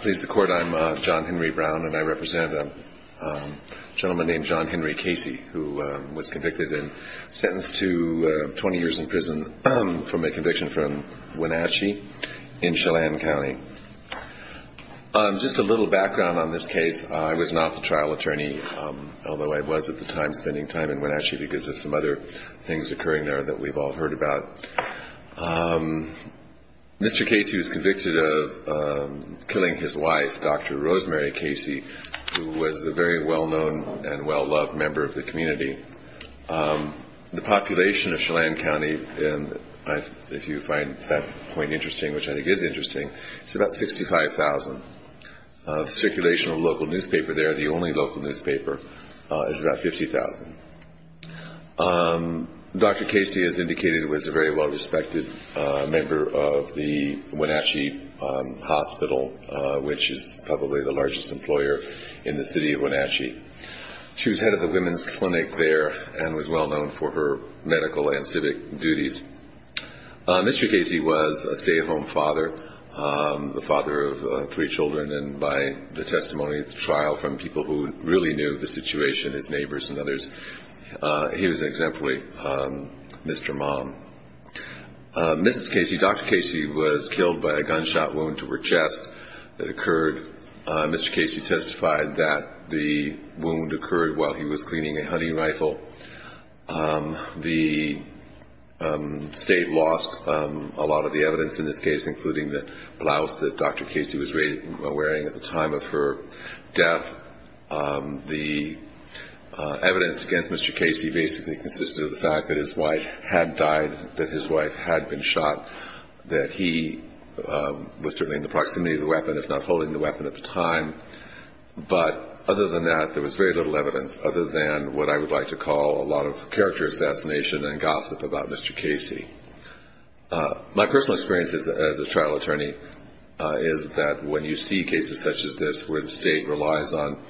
Pleased to court, I'm John Henry Brown and I represent a gentleman named John Henry Casey, who was convicted and sentenced to 20 years in prison for a conviction from Wenatchee in Chelan County. Just a little background on this case. I was an awful trial attorney, although I was at the time spending time in Wenatchee because of some other things occurring there that we've all heard about. Mr. Casey was convicted of killing his wife, Dr. Rosemary Casey, who was a very well-known and well-loved member of the community. The population of Chelan County, if you find that point interesting, which I think is interesting, is about 65,000. The circulation of local newspaper there, the only local newspaper, is about 50,000. Dr. Casey, as indicated, was a very well-respected member of the Wenatchee Hospital, which is probably the largest employer in the city of Wenatchee. She was head of the women's clinic there and was well-known for her medical and civic duties. Mr. Casey was a stay-at-home father, the father of three children, and by the testimony of the trial from people who really knew the situation, his neighbors and others, he was an exemplary Mr. Mom. Mrs. Casey, Dr. Casey, was killed by a gunshot wound to her chest that occurred. Mr. Casey testified that the wound occurred while he was cleaning a hunting rifle. The state lost a lot of the evidence in this case, including the blouse that Dr. Casey was wearing at the time of her death. The evidence against Mr. Casey basically consisted of the fact that his wife had died, that his wife had been shot, that he was certainly in the proximity of the weapon, if not holding the weapon at the time. But other than that, there was very little evidence other than what I would like to call a lot of character assassination and gossip about Mr. Casey. My personal experience as a trial attorney is that when you see cases such as this where the state relies on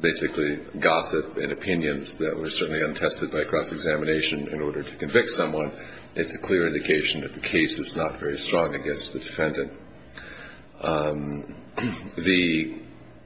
basically gossip and opinions that were certainly untested by cross-examination in order to convict someone, it's a clear indication that the case is not very strong against the defendant. The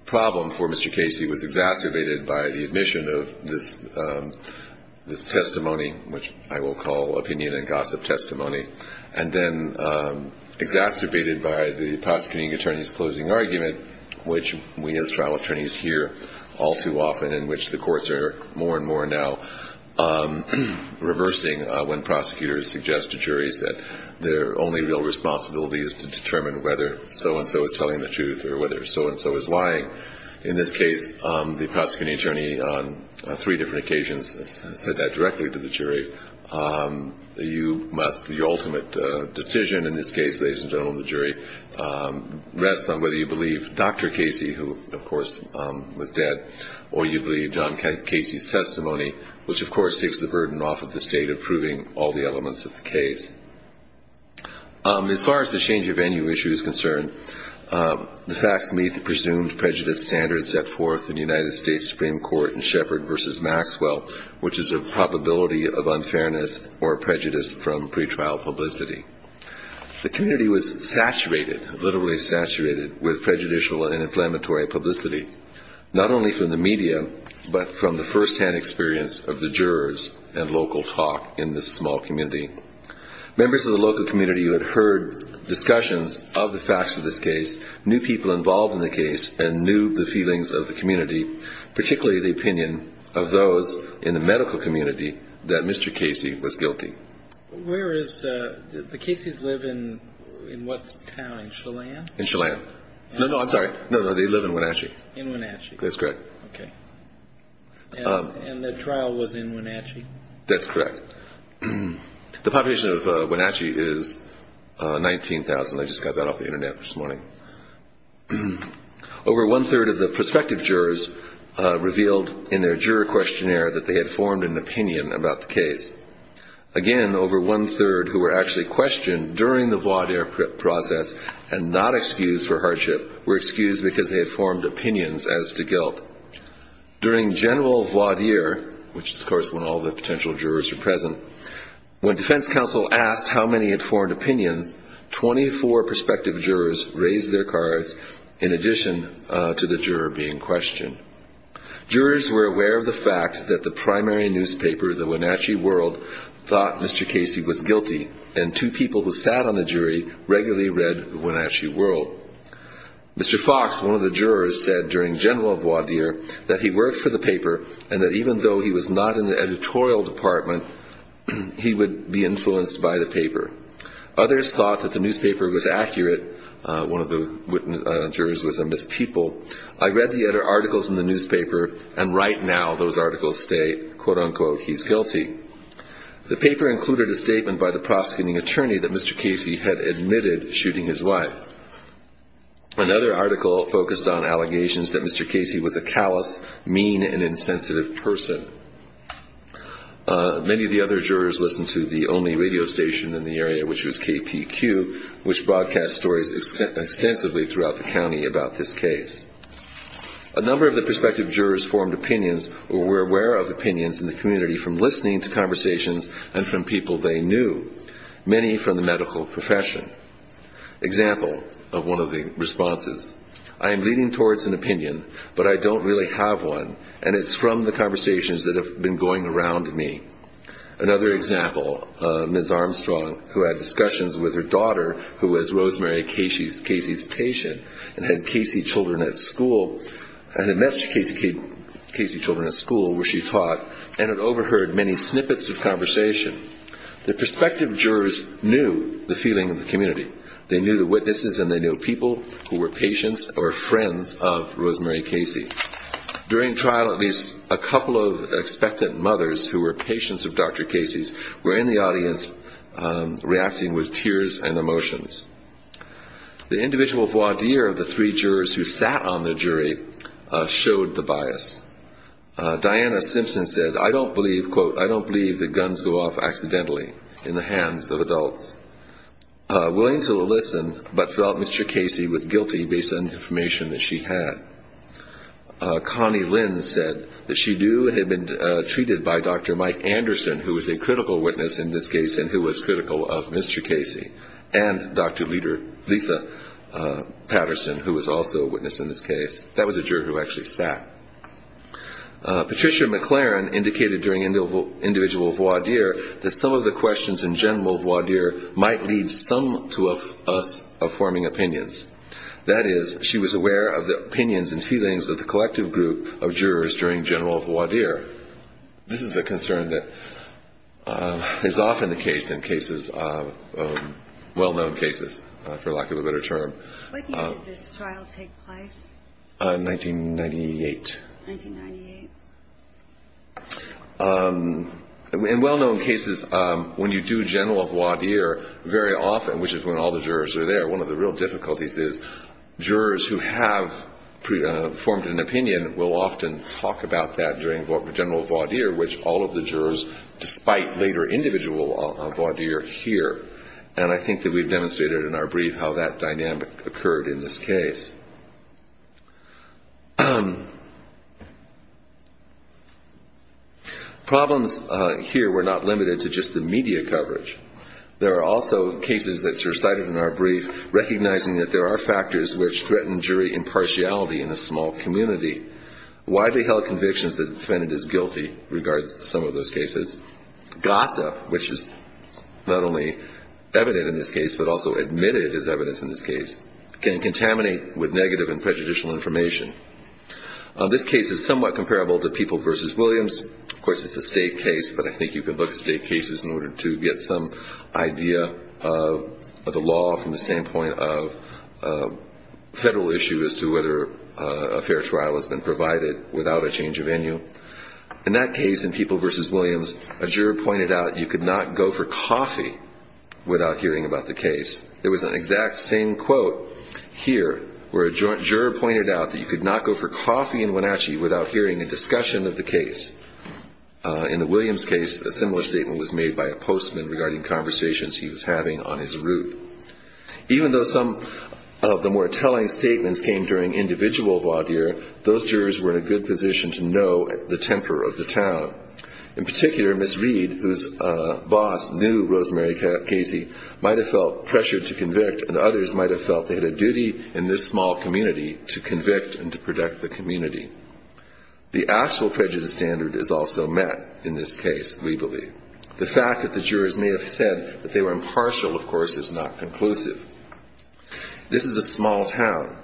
problem for Mr. Casey was exacerbated by the admission of this testimony, which I will call opinion and gossip testimony, and then exacerbated by the prosecuting attorney's closing argument, which we as trial attorneys hear all too often, and which the courts are more and more now reversing when prosecutors suggest to juries that their only real responsibility is to determine whether so-and-so is telling the truth or whether so-and-so is lying. In this case, the prosecuting attorney on three different occasions said that directly to the jury. You must, the ultimate decision in this case, ladies and gentlemen of the jury, rests on whether you believe Dr. Casey, who, of course, was dead, or you believe John Casey's testimony, which, of course, takes the burden off of the state of proving all the elements of the case. As far as the change of venue issue is concerned, the facts meet the presumed prejudice standards set forth in the United States Supreme Court in Sheppard v. Maxwell, which is a probability of unfairness or prejudice from pretrial publicity. The community was saturated, literally saturated, with prejudicial and inflammatory publicity, not only from the media, but from the firsthand experience of the jurors and local talk in this small community. Members of the local community who had heard discussions of the facts of this case knew people involved in the case and knew the feelings of the community, particularly the opinion of those in the medical community that Mr. Casey was guilty. Where is the – the Cases live in what town, Chelan? In Chelan. No, no, I'm sorry. No, no, they live in Wenatchee. In Wenatchee. That's correct. Okay. And the trial was in Wenatchee? That's correct. The population of Wenatchee is 19,000. I just got that off the Internet this morning. Over one-third of the prospective jurors revealed in their juror questionnaire that they had formed an opinion about the case. Again, over one-third who were actually questioned during the voir dire process and not excused for hardship were excused because they had formed opinions as to guilt. During general voir dire, which is, of course, when all the potential jurors are present, when defense counsel asked how many had formed opinions, 24 prospective jurors raised their cards in addition to the juror being questioned. Jurors were aware of the fact that the primary newspaper, the Wenatchee World, thought Mr. Casey was guilty, and two people who sat on the jury regularly read the Wenatchee World. Mr. Fox, one of the jurors, said during general voir dire that he worked for the paper and that even though he was not in the editorial department, he would be influenced by the paper. Others thought that the newspaper was accurate. One of the jurors was a mispeople. I read the articles in the newspaper, and right now those articles state, quote-unquote, he's guilty. The paper included a statement by the prosecuting attorney that Mr. Casey had admitted shooting his wife. Another article focused on allegations that Mr. Casey was a callous, mean, and insensitive person. Many of the other jurors listened to the only radio station in the area, which was KPQ, which broadcast stories extensively throughout the county about this case. A number of the prospective jurors formed opinions or were aware of opinions in the community from listening to conversations and from people they knew, many from the medical profession. Example of one of the responses. I am leaning towards an opinion, but I don't really have one, and it's from the conversations that have been going around me. Another example, Ms. Armstrong, who had discussions with her daughter, who was Rosemary Casey's patient, and had Casey children at school, and had met Casey children at school where she taught, and had overheard many snippets of conversation. The prospective jurors knew the feeling of the community. They knew the witnesses, and they knew people who were patients or friends of Rosemary Casey. During trial, at least a couple of expectant mothers who were patients of Dr. Casey's were in the audience reacting with tears and emotions. The individual voir dire of the three jurors who sat on the jury showed the bias. Diana Simpson said, I don't believe, quote, I don't believe that guns go off accidentally in the hands of adults. Willings will listen, but felt Mr. Casey was guilty based on information that she had. Connie Lynn said that she knew it had been treated by Dr. Mike Anderson, who was a critical witness in this case and who was critical of Mr. Casey, and Dr. Lisa Patterson, who was also a witness in this case. That was a juror who actually sat. Patricia McLaren indicated during individual voir dire that some of the questions in general voir dire might lead some to us forming opinions. That is, she was aware of the opinions and feelings of the collective group of jurors during general voir dire. This is a concern that is often the case in cases, well-known cases, for lack of a better term. When did this trial take place? 1998. 1998. In well-known cases, when you do general voir dire very often, which is when all the jurors are there, one of the real difficulties is jurors who have formed an opinion will often talk about that during general voir dire, which all of the jurors, despite later individual voir dire, hear. And I think that we've demonstrated in our brief how that dynamic occurred in this case. Problems here were not limited to just the media coverage. There are also cases that are cited in our brief recognizing that there are factors which threaten jury impartiality in a small community. Widely held convictions that defendant is guilty regard some of those cases. Gossip, which is not only evident in this case but also admitted as evidence in this case, can contaminate with negative and prejudicial information. Of course, it's a state case, but I think you can look at state cases in order to get some idea of the law from the standpoint of federal issue as to whether a fair trial has been provided without a change of venue. In that case, in People v. Williams, a juror pointed out you could not go for coffee without hearing about the case. There was an exact same quote here where a juror pointed out that you could not go for coffee in Wenatchee without hearing a discussion of the case. In the Williams case, a similar statement was made by a postman regarding conversations he was having on his route. Even though some of the more telling statements came during individual voir dire, those jurors were in a good position to know the temper of the town. In particular, Ms. Reed, whose boss knew Rosemary Casey, might have felt pressured to convict and others might have felt they had a duty in this small community to convict and to protect the community. The actual prejudice standard is also met in this case, we believe. The fact that the jurors may have said that they were impartial, of course, is not conclusive. This is a small town.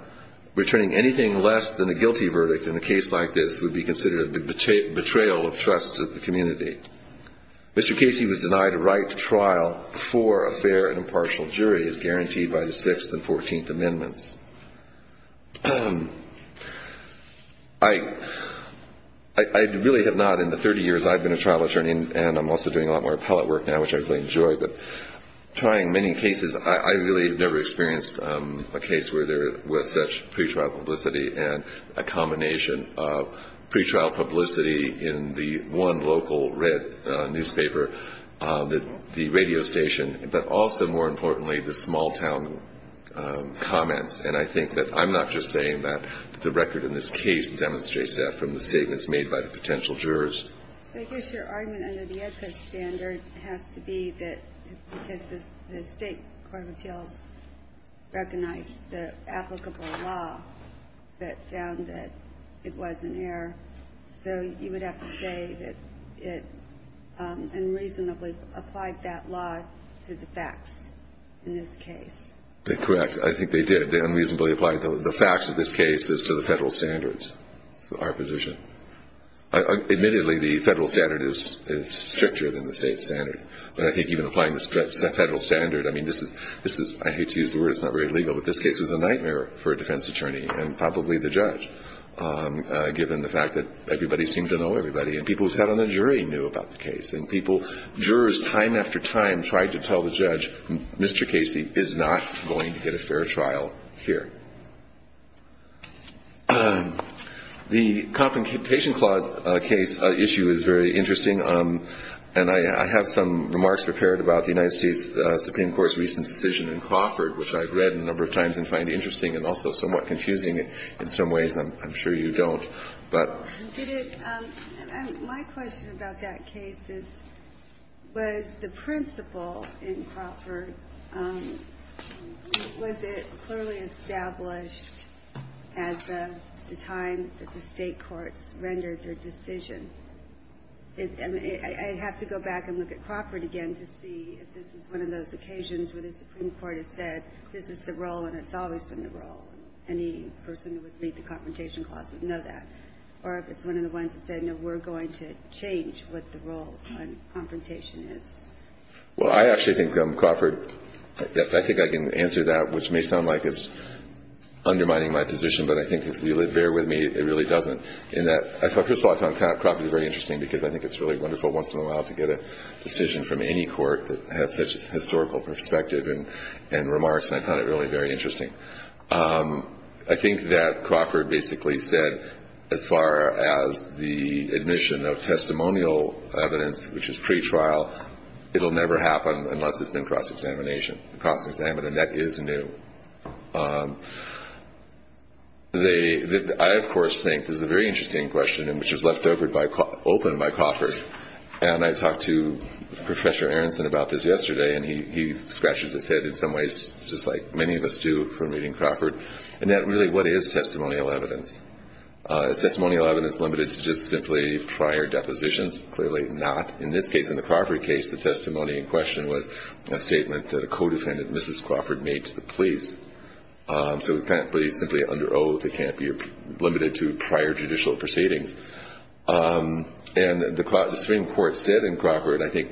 Returning anything less than a guilty verdict in a case like this would be considered a betrayal of trust to the community. Mr. Casey was denied a right to trial before a fair and impartial jury is guaranteed by the 6th and 14th Amendments. I really have not in the 30 years I've been a trial attorney, and I'm also doing a lot more appellate work now, which I really enjoy, but trying many cases, I really have never experienced a case where there was such pretrial publicity and a combination of pretrial publicity in the one local red newspaper, the radio station, but also, more importantly, the small town comments. And I think that I'm not just saying that the record in this case demonstrates that from the statements made by the potential jurors. I guess your argument under the Edco standard has to be that because the State Court of Appeals recognized the applicable law that found that it was an error, so you would have to say that it unreasonably applied that law to the facts in this case. Correct. I think they did. They unreasonably applied the facts of this case as to the federal standards. So our position. Admittedly, the federal standard is stricter than the state standard, but I think even applying the federal standard, I mean, this is, I hate to use the word, it's not very legal, but this case was a nightmare for a defense attorney and probably the judge given the fact that everybody seemed to know everybody, and people who sat on the jury knew about the case, and people, jurors time after time, tried to tell the judge, Mr. Casey is not going to get a fair trial here. The Confrontation Clause case issue is very interesting, and I have some remarks prepared about the United States Supreme Court's recent decision in Crawford, which I've read a number of times and find interesting and also somewhat confusing in some ways. I'm sure you don't, but. My question about that case is, was the principle in Crawford, was it clearly established at the time that the state courts rendered their decision? I have to go back and look at Crawford again to see if this is one of those occasions where the Supreme Court has said, this is the role, and it's always been the role. Any person who would read the Confrontation Clause would know that. Or if it's one of the ones that said, no, we're going to change what the role on confrontation is. Well, I actually think Crawford, I think I can answer that, which may sound like it's undermining my position, but I think if you'll bear with me, it really doesn't. In that, I thought first of all, I thought Crawford was very interesting, because I think it's really wonderful once in a while to get a decision from any court that has such historical perspective and remarks, and I found it really very interesting. I think that Crawford basically said, as far as the admission of testimonial evidence, which is pretrial, it will never happen unless there's been cross-examination. Cross-examination, that is new. I, of course, think this is a very interesting question, which was left open by Crawford, and I talked to Professor Aronson about this yesterday, and he scratches his head in some ways, just like many of us do from reading Crawford, and that really, what is testimonial evidence? Is testimonial evidence limited to just simply prior depositions? Clearly not. In this case, in the Crawford case, the testimony in question was a statement that a co-defendant, Mrs. Crawford, made to the police. So it can't be simply under oath. It can't be limited to prior judicial proceedings. And the Supreme Court said in Crawford, I think,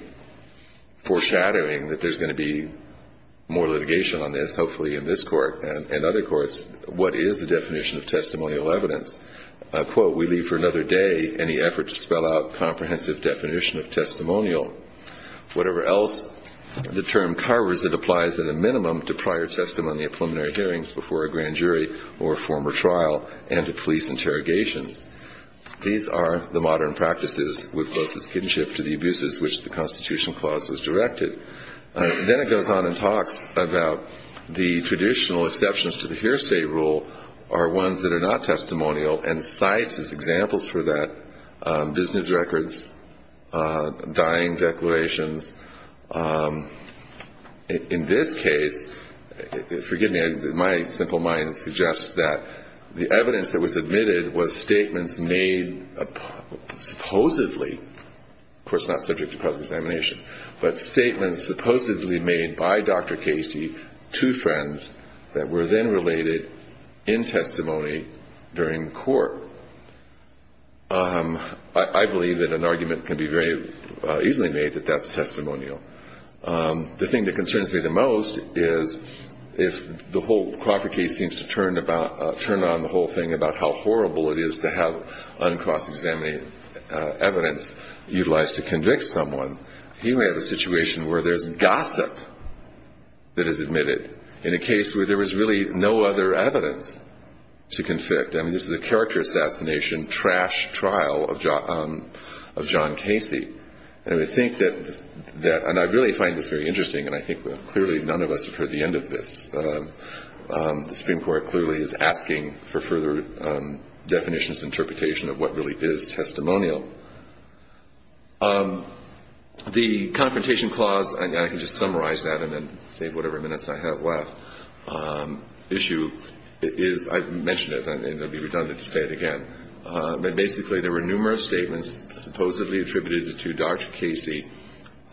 foreshadowing that there's going to be more litigation on this, hopefully in this court and other courts, what is the definition of testimonial evidence? Quote, we leave for another day any effort to spell out comprehensive definition of testimonial. Whatever else the term carvers, it applies at a minimum to prior testimony at preliminary hearings before a grand jury or a former trial and to police interrogations. These are the modern practices with closest kinship to the abuses which the Constitution clause was directed. Then it goes on and talks about the traditional exceptions to the hearsay rule are ones that are not testimonial and cites as examples for that business records, dying declarations. In this case, forgive me, my simple mind suggests that the evidence that was admitted was statements made supposedly, of course not subject to cross-examination, but statements supposedly made by Dr. Casey to friends that were then related in testimony during court. I believe that an argument can be very easily made that that's testimonial. The thing that concerns me the most is if the whole Crawford case seems to turn about, turn on the whole thing about how horrible it is to have uncross-examined evidence utilized to convict someone, he may have a situation where there's gossip that is admitted in a case where there was really no other evidence to convict. I mean, this is a character assassination, trash trial of John Casey. And I think that, and I really find this very interesting, and I think clearly none of us have heard the end of this. The Supreme Court clearly is asking for further definitions and interpretation of what really is testimonial. The Confrontation Clause, and I can just summarize that and then save whatever minutes I have left, issue is, I've mentioned it and it would be redundant to say it again. But basically, there were numerous statements supposedly attributed to Dr. Casey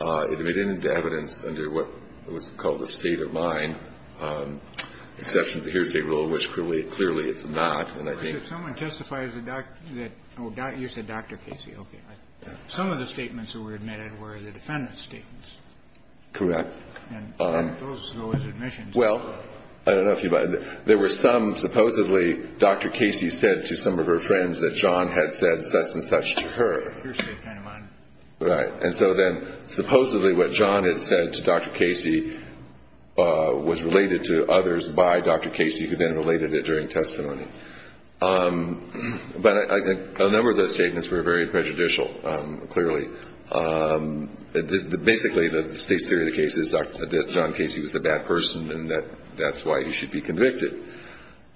admitted into evidence under what was called a state of mind, exception to the hearsay rule, And if someone testifies that, oh, you said Dr. Casey. Okay. Some of the statements that were admitted were the defendant's statements. Correct. And those were his admissions. Well, I don't know if you, there were some, supposedly Dr. Casey said to some of her friends that John had said such and such to her. Hearsay kind of mind. Right. And so then supposedly what John had said to Dr. Casey was related to others by Dr. Casey who then related it during testimony. But a number of those statements were very prejudicial, clearly. Basically, the state's theory of the case is that John Casey was a bad person and that's why he should be convicted.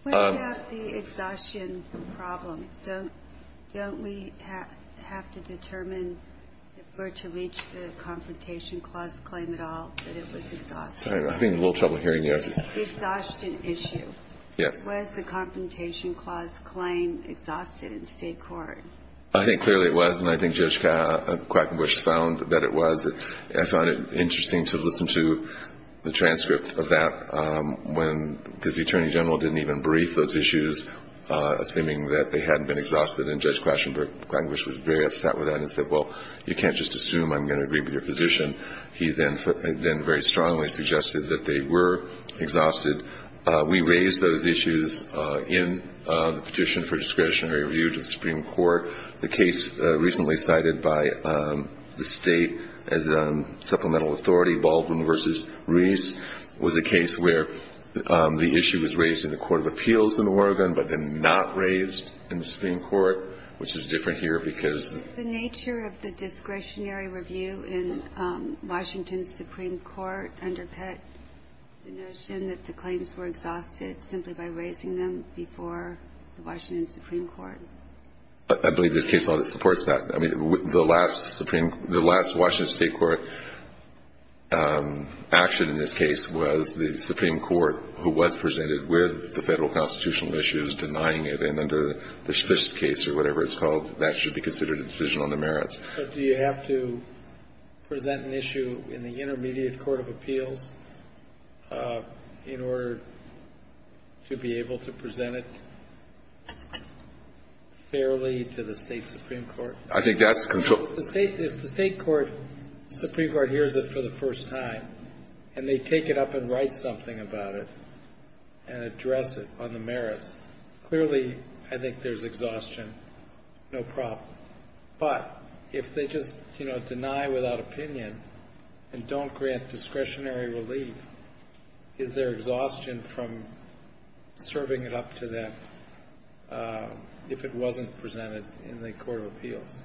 What about the exhaustion problem? Don't we have to determine where to reach the Confrontation Clause claim at all, that it was exhaustion? I'm having a little trouble hearing you. The exhaustion issue. Yes. Was the Confrontation Clause claim exhausted in state court? I think clearly it was. And I think Judge Quackenbush found that it was. I found it interesting to listen to the transcript of that because the Attorney General didn't even brief those issues, assuming that they hadn't been exhausted. And Judge Quackenbush was very upset with that and said, well, you can't just assume I'm going to agree with your position. He then very strongly suggested that they were exhausted. We raised those issues in the petition for discretionary review to the Supreme Court. The case recently cited by the state as supplemental authority, Baldwin v. Reese, was a case where the issue was raised in the Court of Appeals in Oregon but then not raised in the Supreme Court, which is different here because of the nature of the discretionary review in Washington's Supreme Court underpinned the notion that the claims were exhausted simply by raising them before the Washington Supreme Court. I believe this case supports that. I mean, the last Supreme — the last Washington State court action in this case was the Supreme Court, who was presented with the federal constitutional issues, denying it. And under this case or whatever it's called, that should be considered a decision on the merits. But do you have to present an issue in the intermediate Court of Appeals in order to be able to present it fairly to the State Supreme Court? I think that's — If the State court, Supreme Court hears it for the first time, and they take it up and write something about it and address it on the merits, clearly I think there's exhaustion, no problem. But if they just, you know, deny without opinion and don't grant discretionary relief, is there exhaustion from serving it up to them if it wasn't presented in the Court of Appeals?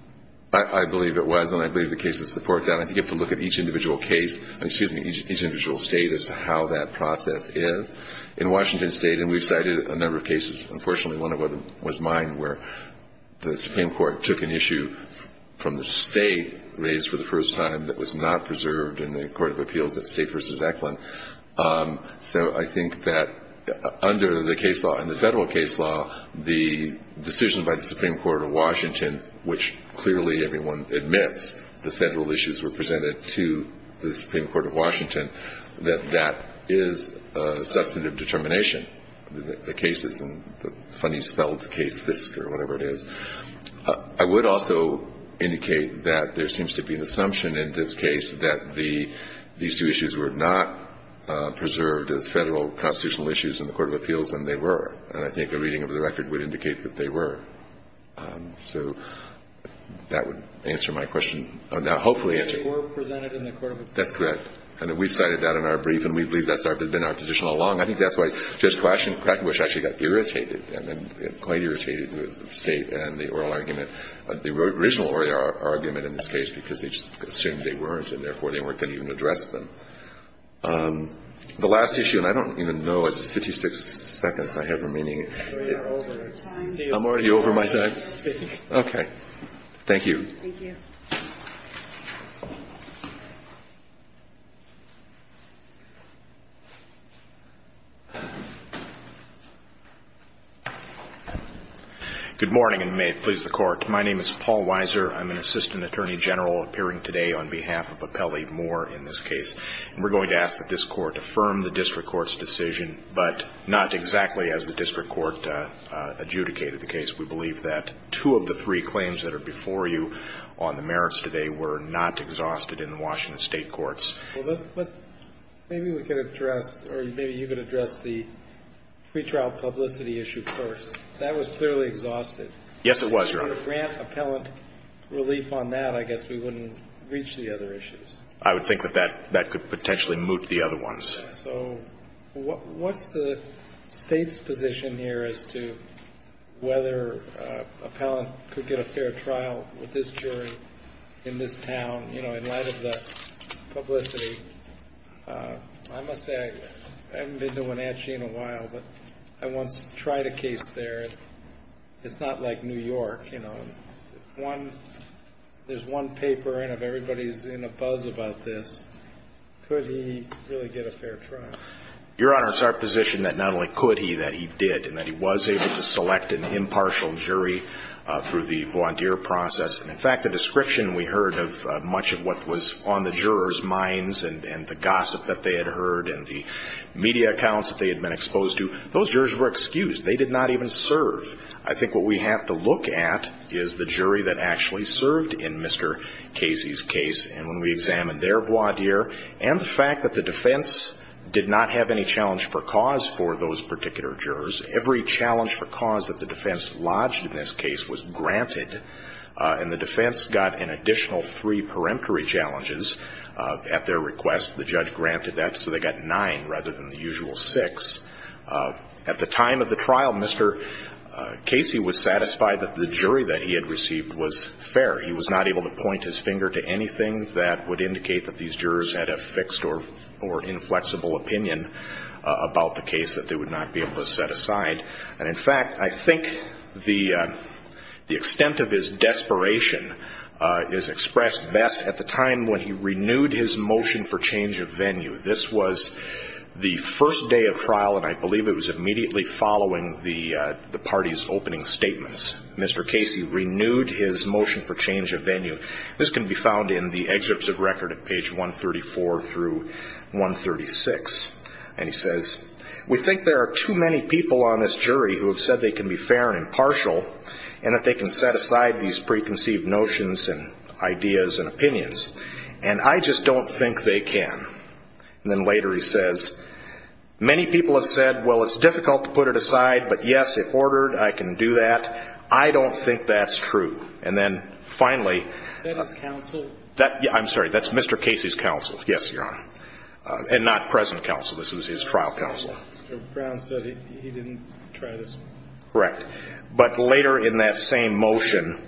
I believe it was. And I believe the cases support that. I think you have to look at each individual case — excuse me, each individual State as to how that process is. In Washington State — and we've cited a number of cases. Unfortunately, one of them was mine where the Supreme Court took an issue from the State, raised for the first time, that was not preserved in the Court of Appeals at State v. Eklund. So I think that under the case law and the federal case law, the decision by the Supreme Court of Washington, which clearly everyone admits the federal issues were presented to the Supreme Court of Washington, that that is substantive determination, the cases and the funny spelled case, FISC or whatever it is. I would also indicate that there seems to be an assumption in this case that the — these two issues were not preserved as federal constitutional issues in the Court of Appeals, and they were. And I think a reading of the record would indicate that they were. So that would answer my question. Or now hopefully answer it. They were presented in the Court of Appeals. That's correct. And we've cited that in our brief, and we believe that's been our position all along. I think that's why Judge Crackenbush actually got irritated and quite irritated with the State and the oral argument, the original oral argument in this case, because they just assumed they weren't, and therefore they weren't going to even address them. The last issue, and I don't even know. It's 56 seconds I have remaining. We are over. I'm already over my time. Okay. Thank you. Thank you. Good morning, and may it please the Court. My name is Paul Weiser. I'm an assistant attorney general appearing today on behalf of Appellee Moore in this case. And we're going to ask that this Court affirm the district court's decision, but not exactly as the district court adjudicated the case. We believe that two of the three claims that are before you on the merits today were not exhausted in the Washington State courts. Well, but maybe we could address, or maybe you could address the pretrial publicity issue first. That was clearly exhausted. Yes, it was, Your Honor. If we could grant appellant relief on that, I guess we wouldn't reach the other issues. I would think that that could potentially moot the other ones. So what's the State's position here as to whether appellant could get a fair trial with this jury in this town, you know, in light of the publicity? I must say I haven't been to Wenatchee in a while, but I once tried a case there. It's not like New York, you know. There's one paper, and if everybody's in a buzz about this, could he really get a fair trial? Your Honor, it's our position that not only could he, that he did, and that he was able to select an impartial jury through the volunteer process. And, in fact, the description we heard of much of what was on the jurors' minds and the gossip that they had heard and the media accounts that they had been exposed to, those jurors were excused. They did not even serve. I think what we have to look at is the jury that actually served in Mr. Casey's case. And when we examined their voir dire and the fact that the defense did not have any challenge for cause for those particular jurors, every challenge for cause that the defense lodged in this case was granted, and the defense got an additional three peremptory challenges at their request. The judge granted that, so they got nine rather than the usual six. At the time of the trial, Mr. Casey was satisfied that the jury that he had received was fair. He was not able to point his finger to anything that would indicate that these jurors had a fixed or inflexible opinion about the case that they would not be able to set aside. And, in fact, I think the extent of his desperation is expressed best at the time when he renewed his motion for change of venue. This was the first day of trial, and I believe it was immediately following the party's opening statements. Mr. Casey renewed his motion for change of venue. This can be found in the excerpts of record at page 134 through 136. And he says, we think there are too many people on this jury who have said they can be fair and impartial and that they can set aside these preconceived notions and ideas and opinions, and I just don't think they can. And then later he says, many people have said, well, it's difficult to put it aside, but, yes, if ordered, I can do that. I don't think that's true. And then, finally. Is that his counsel? I'm sorry. That's Mr. Casey's counsel. Yes, Your Honor. And not present counsel. This was his trial counsel. Mr. Brown said he didn't try this one. Correct. But later in that same motion,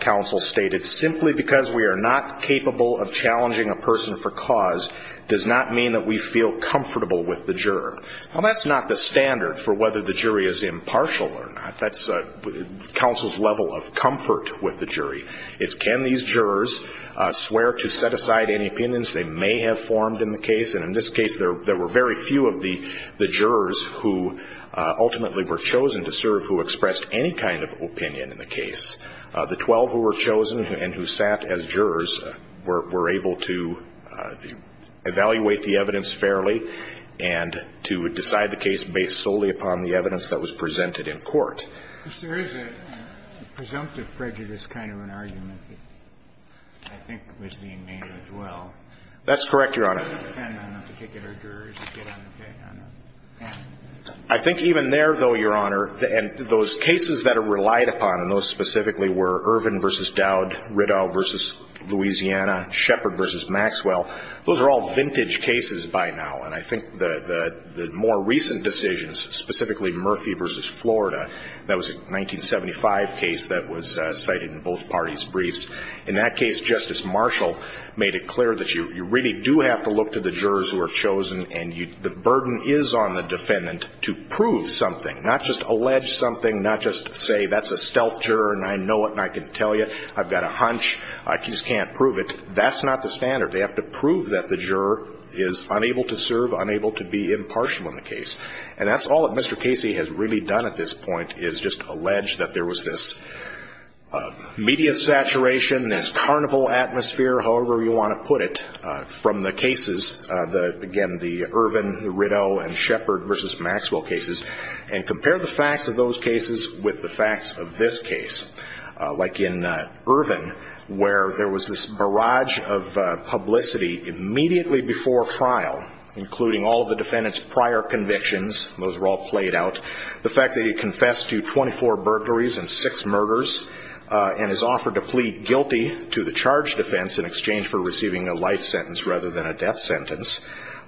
counsel stated, simply because we are not capable of challenging a person for cause does not mean that we feel comfortable with the juror. Now, that's not the standard for whether the jury is impartial or not. That's counsel's level of comfort with the jury. It's can these jurors swear to set aside any opinions they may have formed in the case, and in this case, there were very few of the jurors who ultimately were chosen to serve who expressed any kind of opinion in the case. The 12 who were chosen and who sat as jurors were able to evaluate the evidence fairly and to decide the case based solely upon the evidence that was presented in court. There is a presumptive prejudice kind of an argument that I think was being made as well. That's correct, Your Honor. I think even there, though, Your Honor, and those cases that are relied upon, and those specifically were Irvin v. Dowd, Riddell v. Louisiana, Shepard v. Maxwell, those are all vintage cases by now, and I think the more recent decisions, specifically Murphy v. Florida, that was a 1975 case that was cited in both parties' briefs. In that case, Justice Marshall made it clear that you really do have to look to the jurors who are chosen, and the burden is on the defendant to prove something, not just allege something, not just say that's a stealth juror and I know it and I can tell you, I've got a hunch, I just can't prove it. That's not the standard. They have to prove that the juror is unable to serve, unable to be impartial in the case, and that's all that Mr. Casey has really done at this point is just allege that there was this media saturation, this carnival atmosphere, however you want to put it, from the cases, again, the Irvin, the Riddell, and Shepard v. Maxwell cases, and compare the facts of those cases with the facts of this case. Like in Irvin, where there was this barrage of publicity immediately before trial, including all of the defendant's prior convictions, those were all played out, the fact that he confessed to 24 burglaries and 6 murders and is offered to plead guilty to the charge defense in exchange for receiving a life sentence rather than a death sentence,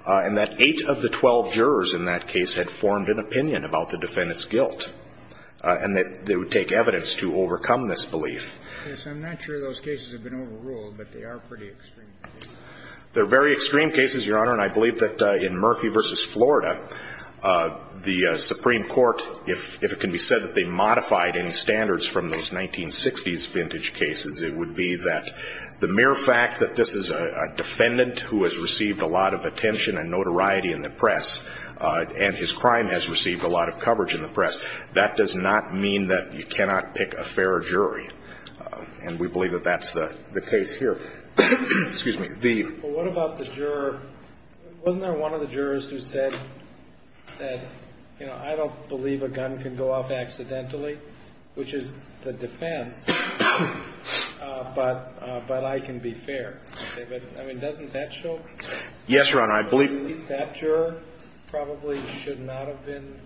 and that 8 of the 12 jurors in that case had formed an opinion about the defendant's guilt, and that they would take evidence to overcome this belief. Yes, I'm not sure those cases have been overruled, but they are pretty extreme. They're very extreme cases, Your Honor, and I believe that in Murphy v. Florida, the Supreme Court, if it can be said that they modified any standards from those 1960s vintage cases, it would be that the mere fact that this is a defendant who has received a lot of attention and notoriety in the press and his crime has received a lot of coverage in the press, that does not mean that you cannot pick a fair jury, and we believe that that's the case here. Well, what about the juror? Wasn't there one of the jurors who said, you know, I don't believe a gun can go off accidentally, which is the defense, but I can be fair? I mean, doesn't that show? Yes, Your Honor. At least that juror probably should not have been.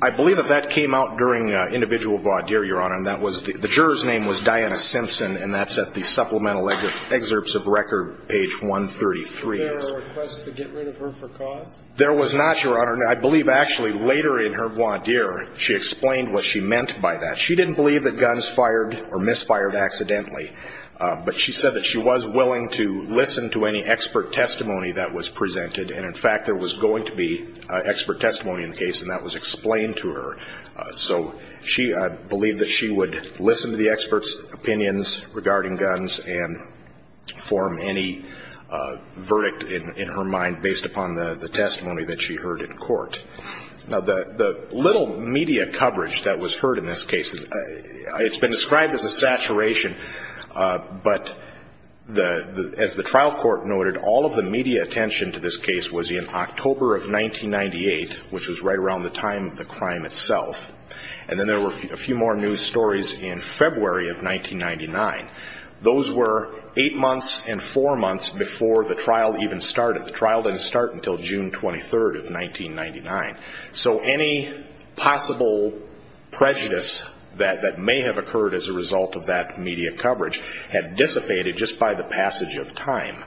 I believe that that came out during individual vaude, Your Honor, and the juror's name was Diana Simpson, and that's at the supplemental excerpts of record, page 133. Was there a request to get rid of her for cause? There was not, Your Honor. I believe, actually, later in her voir dire, she explained what she meant by that. She didn't believe that guns fired or misfired accidentally, but she said that she was willing to listen to any expert testimony that was presented, and, in fact, there was going to be expert testimony in the case, and that was explained to her. So I believe that she would listen to the experts' opinions regarding guns and form any verdict in her mind based upon the testimony that she heard in court. Now, the little media coverage that was heard in this case, it's been described as a saturation, but as the trial court noted, all of the media attention to this case was in October of 1998, which was right around the time of the crime itself. And then there were a few more news stories in February of 1999. Those were eight months and four months before the trial even started. The trial didn't start until June 23rd of 1999. So any possible prejudice that may have occurred as a result of that media coverage had dissipated just by the passage of time.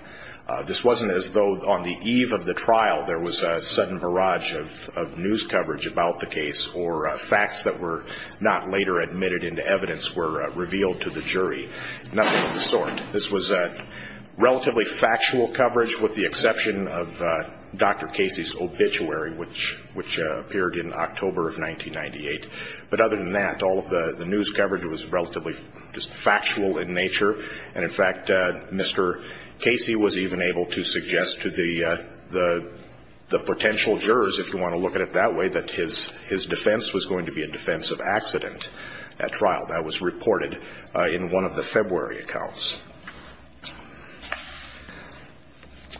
This wasn't as though on the eve of the trial there was a sudden barrage of news coverage about the case or facts that were not later admitted into evidence were revealed to the jury, nothing of the sort. This was relatively factual coverage with the exception of Dr. Casey's obituary, which appeared in October of 1998. But other than that, all of the news coverage was relatively just factual in nature, and in fact Mr. Casey was even able to suggest to the potential jurors, if you want to look at it that way, that his defense was going to be a defense of accident at trial. That was reported in one of the February accounts.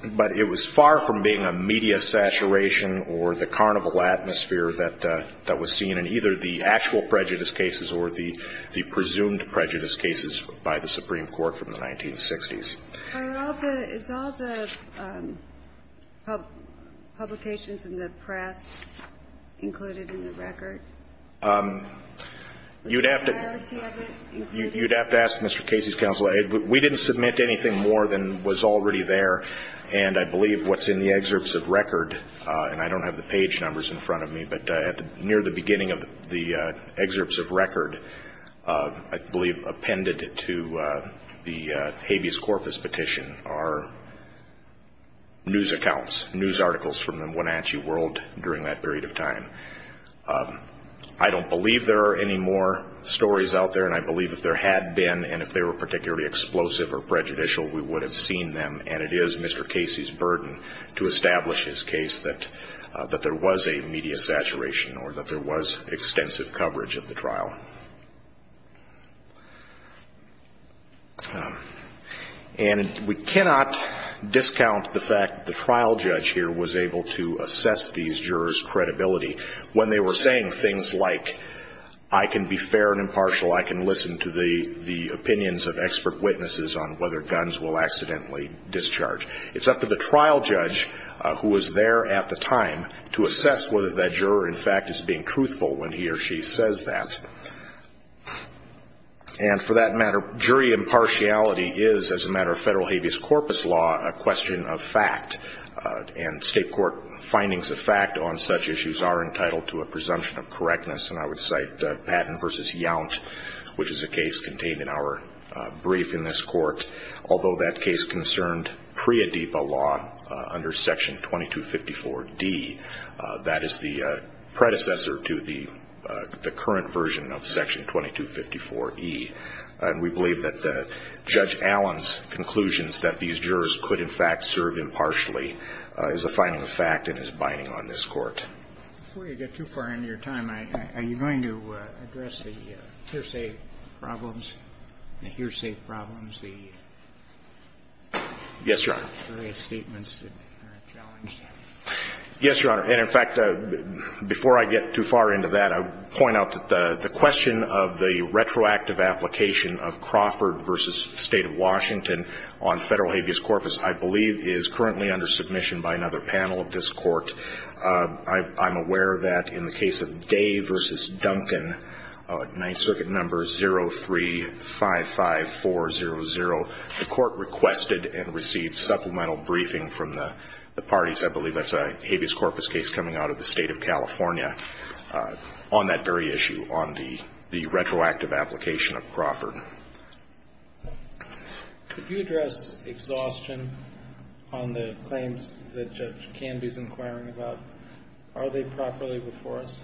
But it was far from being a media saturation or the carnival atmosphere that was seen in either the actual prejudice cases or the presumed prejudice cases by the Supreme Court from the 1960s. Is all the publications in the press included in the record? You'd have to ask Mr. Casey's counsel. We didn't submit anything more than was already there. And I believe what's in the excerpts of record, and I don't have the page numbers in front of me, but near the beginning of the excerpts of record, I believe appended to the habeas corpus petition, are news accounts, news articles from the Wenatchee world during that period of time. I don't believe there are any more stories out there, and I believe if there had been and if they were particularly explosive or prejudicial, we would have seen them. And it is Mr. Casey's burden to establish his case that there was a media saturation or that there was extensive coverage of the trial. And we cannot discount the fact that the trial judge here was able to assess these jurors' credibility. When they were saying things like, I can be fair and impartial, I can listen to the opinions of expert witnesses on whether guns will accidentally discharge. It's up to the trial judge, who was there at the time, to assess whether that juror, in fact, is being truthful when he or she says that. And for that matter, jury impartiality is, as a matter of federal habeas corpus law, a question of fact. And state court findings of fact on such issues are entitled to a presumption of correctness. And I would cite Patton v. Yount, which is a case contained in our brief in this court. Although that case concerned PREA DEPA law under Section 2254D, that is the predecessor to the current version of Section 2254E. And we believe that Judge Allen's conclusions that these jurors could, in fact, serve impartially, is a finding of fact and is binding on this court. Before you get too far into your time, are you going to address the hearsay problems, the hearsay problems, the various statements that are challenged? Yes, Your Honor. And, in fact, before I get too far into that, I would point out that the question of the retroactive application of Crawford v. State of Washington on federal habeas corpus, I believe, is currently under submission by another panel of this Court. I'm aware that in the case of Day v. Duncan, Ninth Circuit Number 0355400, the Court requested and received supplemental briefing from the parties. I believe that's a habeas corpus case coming out of the State of California on that very issue, on the retroactive application of Crawford. Could you address exhaustion on the claims that Judge Canby's inquiring about? Are they properly before us?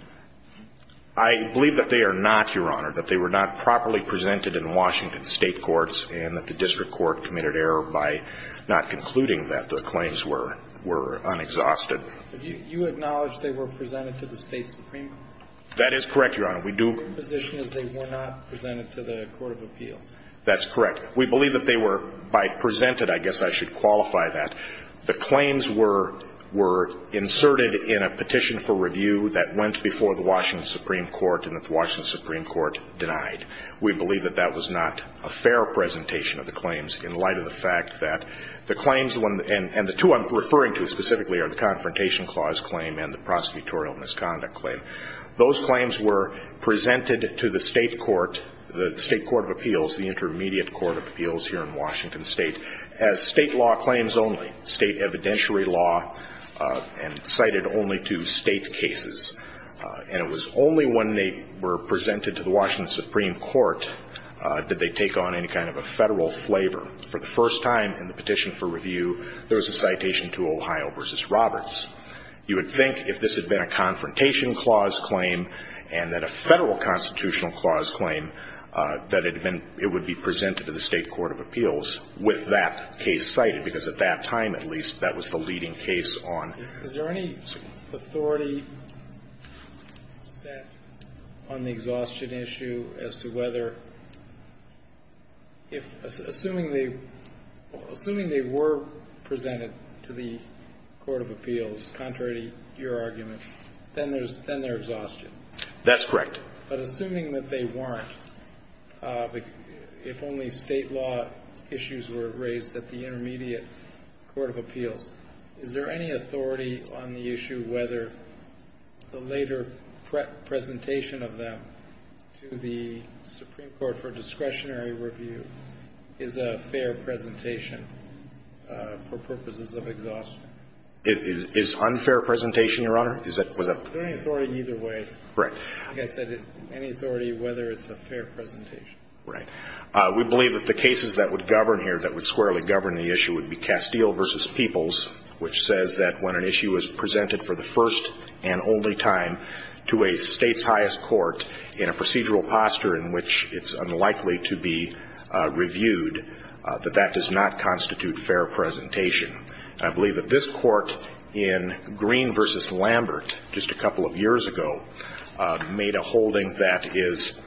I believe that they are not, Your Honor, that they were not properly presented in Washington State courts and that the district court committed error by not concluding that the claims were unexhausted. You acknowledge they were presented to the State supreme court? That is correct, Your Honor. We do. Your position is they were not presented to the court of appeals? That's correct. We believe that they were, by presented, I guess I should qualify that, the claims were inserted in a petition for review that went before the Washington supreme court and that the Washington supreme court denied. We believe that that was not a fair presentation of the claims in light of the fact that the claims, and the two I'm referring to specifically are the Confrontation Clause claim and the prosecutorial misconduct claim, those claims were presented to the State court, the State court of appeals, the intermediate court of appeals here in Washington State as State law claims only, State evidentiary law and cited only to State cases. And it was only when they were presented to the Washington supreme court did they take on any kind of a Federal flavor. For the first time in the petition for review, there was a citation to Ohio v. Roberts. You would think if this had been a Confrontation Clause claim and then a Federal Constitutional Clause claim, that it would be presented to the State court of appeals with that case cited, because at that time, at least, that was the leading case on. Is there any authority set on the exhaustion issue as to whether, assuming they were presented to the court of appeals, contrary to your argument, then there's exhaustion? That's correct. But assuming that they weren't, if only State law issues were raised at the intermediate court of appeals, is there any authority on the issue whether the later presentation of them to the supreme court for discretionary review is a fair presentation for purposes of exhaustion? It's unfair presentation, Your Honor. Is that the point? Is there any authority either way? Right. Like I said, any authority whether it's a fair presentation. Right. We believe that the cases that would govern here, that would squarely govern the issue, would be Castile v. Peoples, which says that when an issue is presented for the first and only time to a State's highest court in a procedural posture in which it's unlikely to be reviewed, that that does not constitute fair presentation. I believe that this Court in Green v. Lambert, just a couple of years ago, made a holding that is,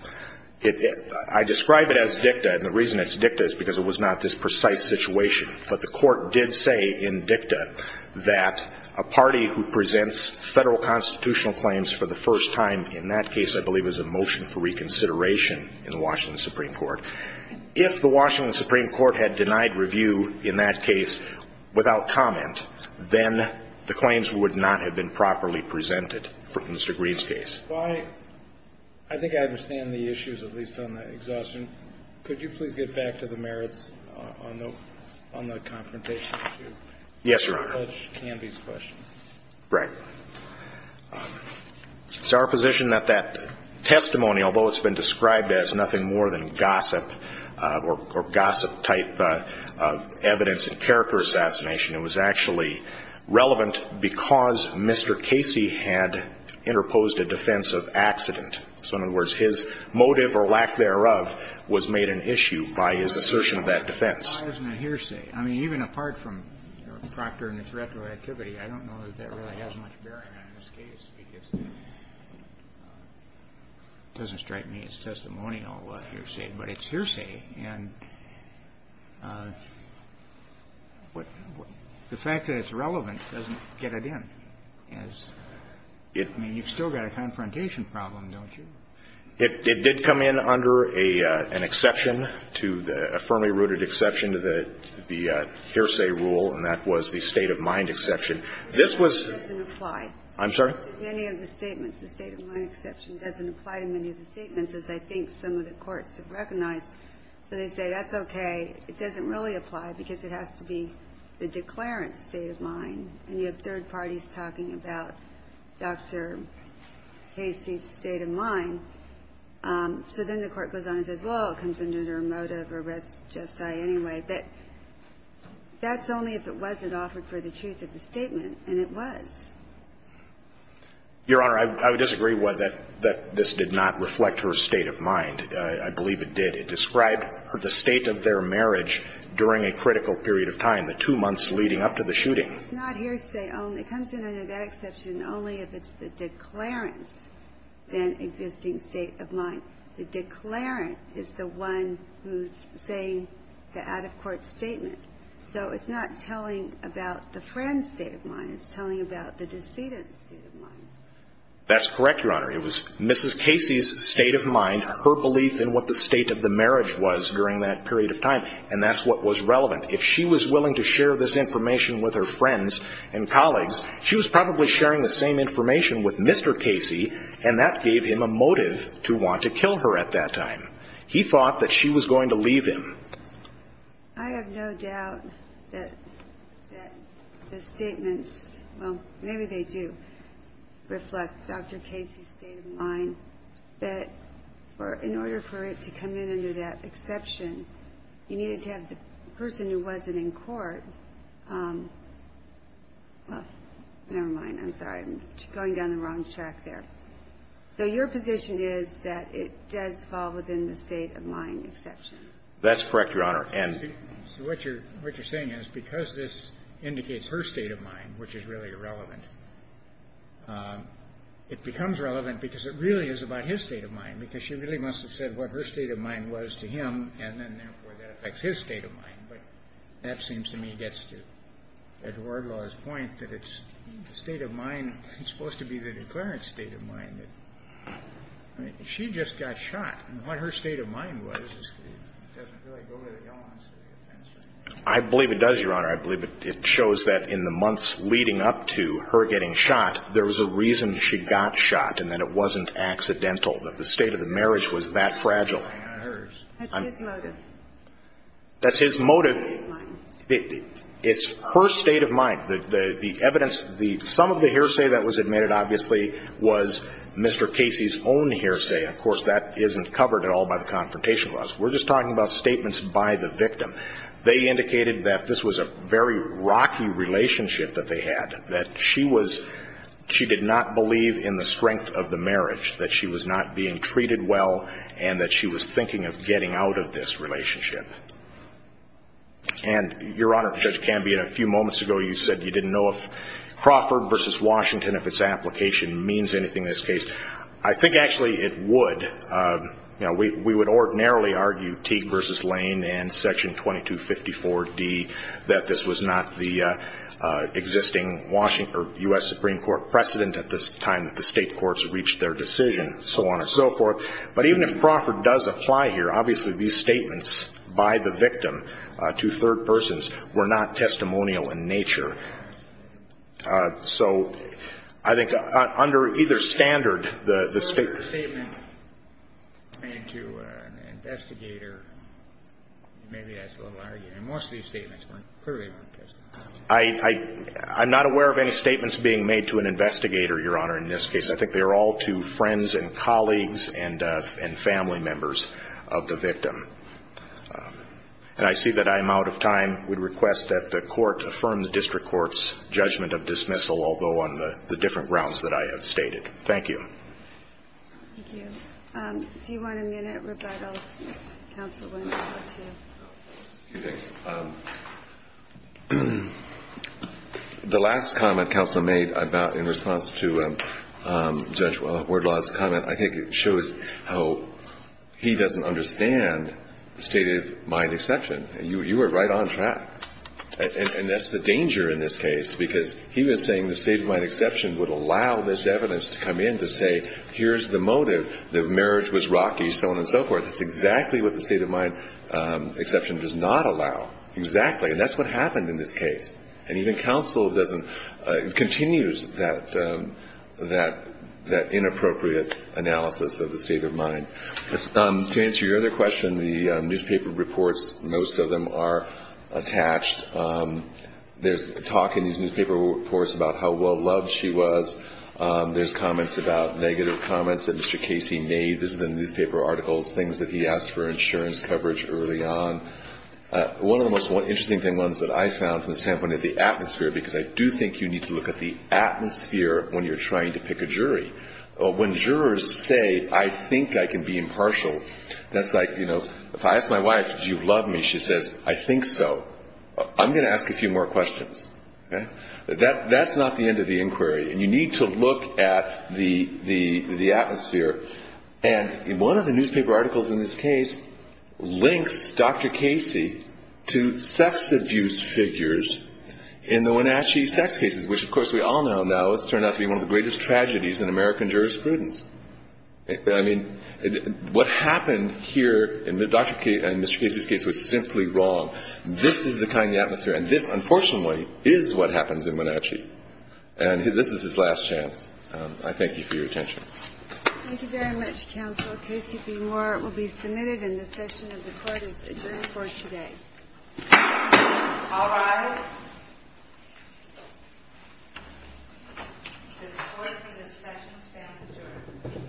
I describe it as dicta, and the reason it's dicta is because it was not this precise situation. But the Court did say in dicta that a party who presents Federal constitutional claims for the first time in that case I believe is a motion for reconsideration in the Washington Supreme Court. If the Washington Supreme Court had denied review in that case without comment, then the claims would not have been properly presented for Mr. Green's case. I think I understand the issues, at least on the exhaustion. Could you please get back to the merits on the confrontation issue? Yes, Your Honor. Judge Canby's questions. Right. It's our position that that testimony, although it's been described as nothing more than gossip or gossip-type evidence and character assassination, it was actually relevant because Mr. Casey had interposed a defense of accident. So in other words, his motive or lack thereof was made an issue by his assertion of that defense. Why isn't it hearsay? I mean, even apart from Proctor and its retroactivity, I don't know that that really has much bearing on this case because it doesn't strike me as testimonial hearsay, but it's hearsay. And the fact that it's relevant doesn't get it in. I mean, you've still got a confrontation problem, don't you? It did come in under an exception to the – a firmly rooted exception to the hearsay rule, and that was the state-of-mind exception. This was – It doesn't apply. I'm sorry? To any of the statements. The state-of-mind exception doesn't apply to many of the statements, as I think some of the courts have recognized. So they say, that's okay. It doesn't really apply because it has to be the declarant's state of mind. And you have third parties talking about Dr. Casey's state of mind. So then the court goes on and says, well, it comes under a motive or res gestae anyway, but that's only if it wasn't offered for the truth of the statement, and it was. Your Honor, I would disagree that this did not reflect her state of mind. I believe it did. It described the state of their marriage during a critical period of time, the two comes in under that exception only if it's the declarant's then existing state of mind. The declarant is the one who's saying the out-of-court statement. So it's not telling about the friend's state of mind. It's telling about the decedent's state of mind. That's correct, Your Honor. It was Mrs. Casey's state of mind, her belief in what the state of the marriage was during that period of time, and that's what was relevant. If she was willing to share this information with her friends and colleagues, she was probably sharing the same information with Mr. Casey, and that gave him a motive to want to kill her at that time. He thought that she was going to leave him. I have no doubt that the statements, well, maybe they do reflect Dr. Casey's state of mind, that in order for it to come in under that exception, you needed to have the person who wasn't in court. Well, never mind. I'm sorry. I'm going down the wrong track there. So your position is that it does fall within the state of mind exception? That's correct, Your Honor. Ann. So what you're saying is because this indicates her state of mind, which is really irrelevant, it becomes relevant because it really is about his state of mind, because she really must have said what her state of mind was to him, and then, therefore, that affects his state of mind. But that seems to me gets to Edward Law's point that it's the state of mind that's supposed to be the declarant's state of mind. She just got shot, and what her state of mind was doesn't really go to the elements of the offense. I believe it does, Your Honor. I believe it shows that in the months leading up to her getting shot, there was a reason she got shot, and that it wasn't accidental, that the state of the marriage was that fragile. That's his motive. That's his motive. It's her state of mind. The evidence, some of the hearsay that was admitted, obviously, was Mr. Casey's own hearsay. Of course, that isn't covered at all by the Confrontation Clause. We're just talking about statements by the victim. They indicated that this was a very rocky relationship that they had, that she was not being treated well, and that she was thinking of getting out of this relationship. And, Your Honor, Judge Cambion, a few moments ago, you said you didn't know if Crawford v. Washington, if its application means anything in this case. I think, actually, it would. You know, we would ordinarily argue Teague v. Lane and Section 2254d that this was not the existing Washington or U.S. Supreme Court precedent at this time. That the state courts reached their decision, so on and so forth. But even if Crawford does apply here, obviously, these statements by the victim to third persons were not testimonial in nature. So, I think, under either standard, the state... The statement made to an investigator, maybe that's a little arguing. Most of these statements clearly weren't testimonial. I'm not aware of any statements being made to an investigator, Your Honor, in this case. I think they are all to friends and colleagues and family members of the victim. And I see that I am out of time. I would request that the Court affirm the district court's judgment of dismissal, although on the different grounds that I have stated. Thank you. Thank you. Do you want a minute, Roberto? Counsel, we're going to talk to you. A few things. The last comment counsel made in response to Judge Wardlaw's comment, I think it shows how he doesn't understand the state of mind exception. You were right on track. And that's the danger in this case, because he was saying the state of mind exception would allow this evidence to come in to say, here's the motive. The marriage was rocky, so on and so forth. That's exactly what the state of mind exception does not allow, exactly. And that's what happened in this case. And even counsel continues that inappropriate analysis of the state of mind. To answer your other question, the newspaper reports, most of them are attached. There's talk in these newspaper reports about how well loved she was. There's comments about negative comments that Mr. Casey made. This is in the newspaper articles, things that he asked for insurance coverage early on. One of the most interesting ones that I found from the standpoint of the atmosphere, because I do think you need to look at the atmosphere when you're trying to pick a jury. When jurors say, I think I can be impartial, that's like, you know, if I ask my wife, do you love me, she says, I think so. I'm going to ask a few more questions. That's not the end of the inquiry. And you need to look at the atmosphere. And one of the newspaper articles in this case links Dr. Casey to sex abuse figures in the Wenatchee sex cases, which, of course, we all know now has turned out to be one of the greatest tragedies in American jurisprudence. I mean, what happened here in Mr. Casey's case was simply wrong. This is the kind of atmosphere, and this, unfortunately, is what happens in Wenatchee. And this is his last chance. I thank you for your attention. Thank you very much, Counsel. Casey v. Moore will be submitted, and this section of the Court is adjourned for today. All rise. The Court for this session stands adjourned. The Court is adjourned.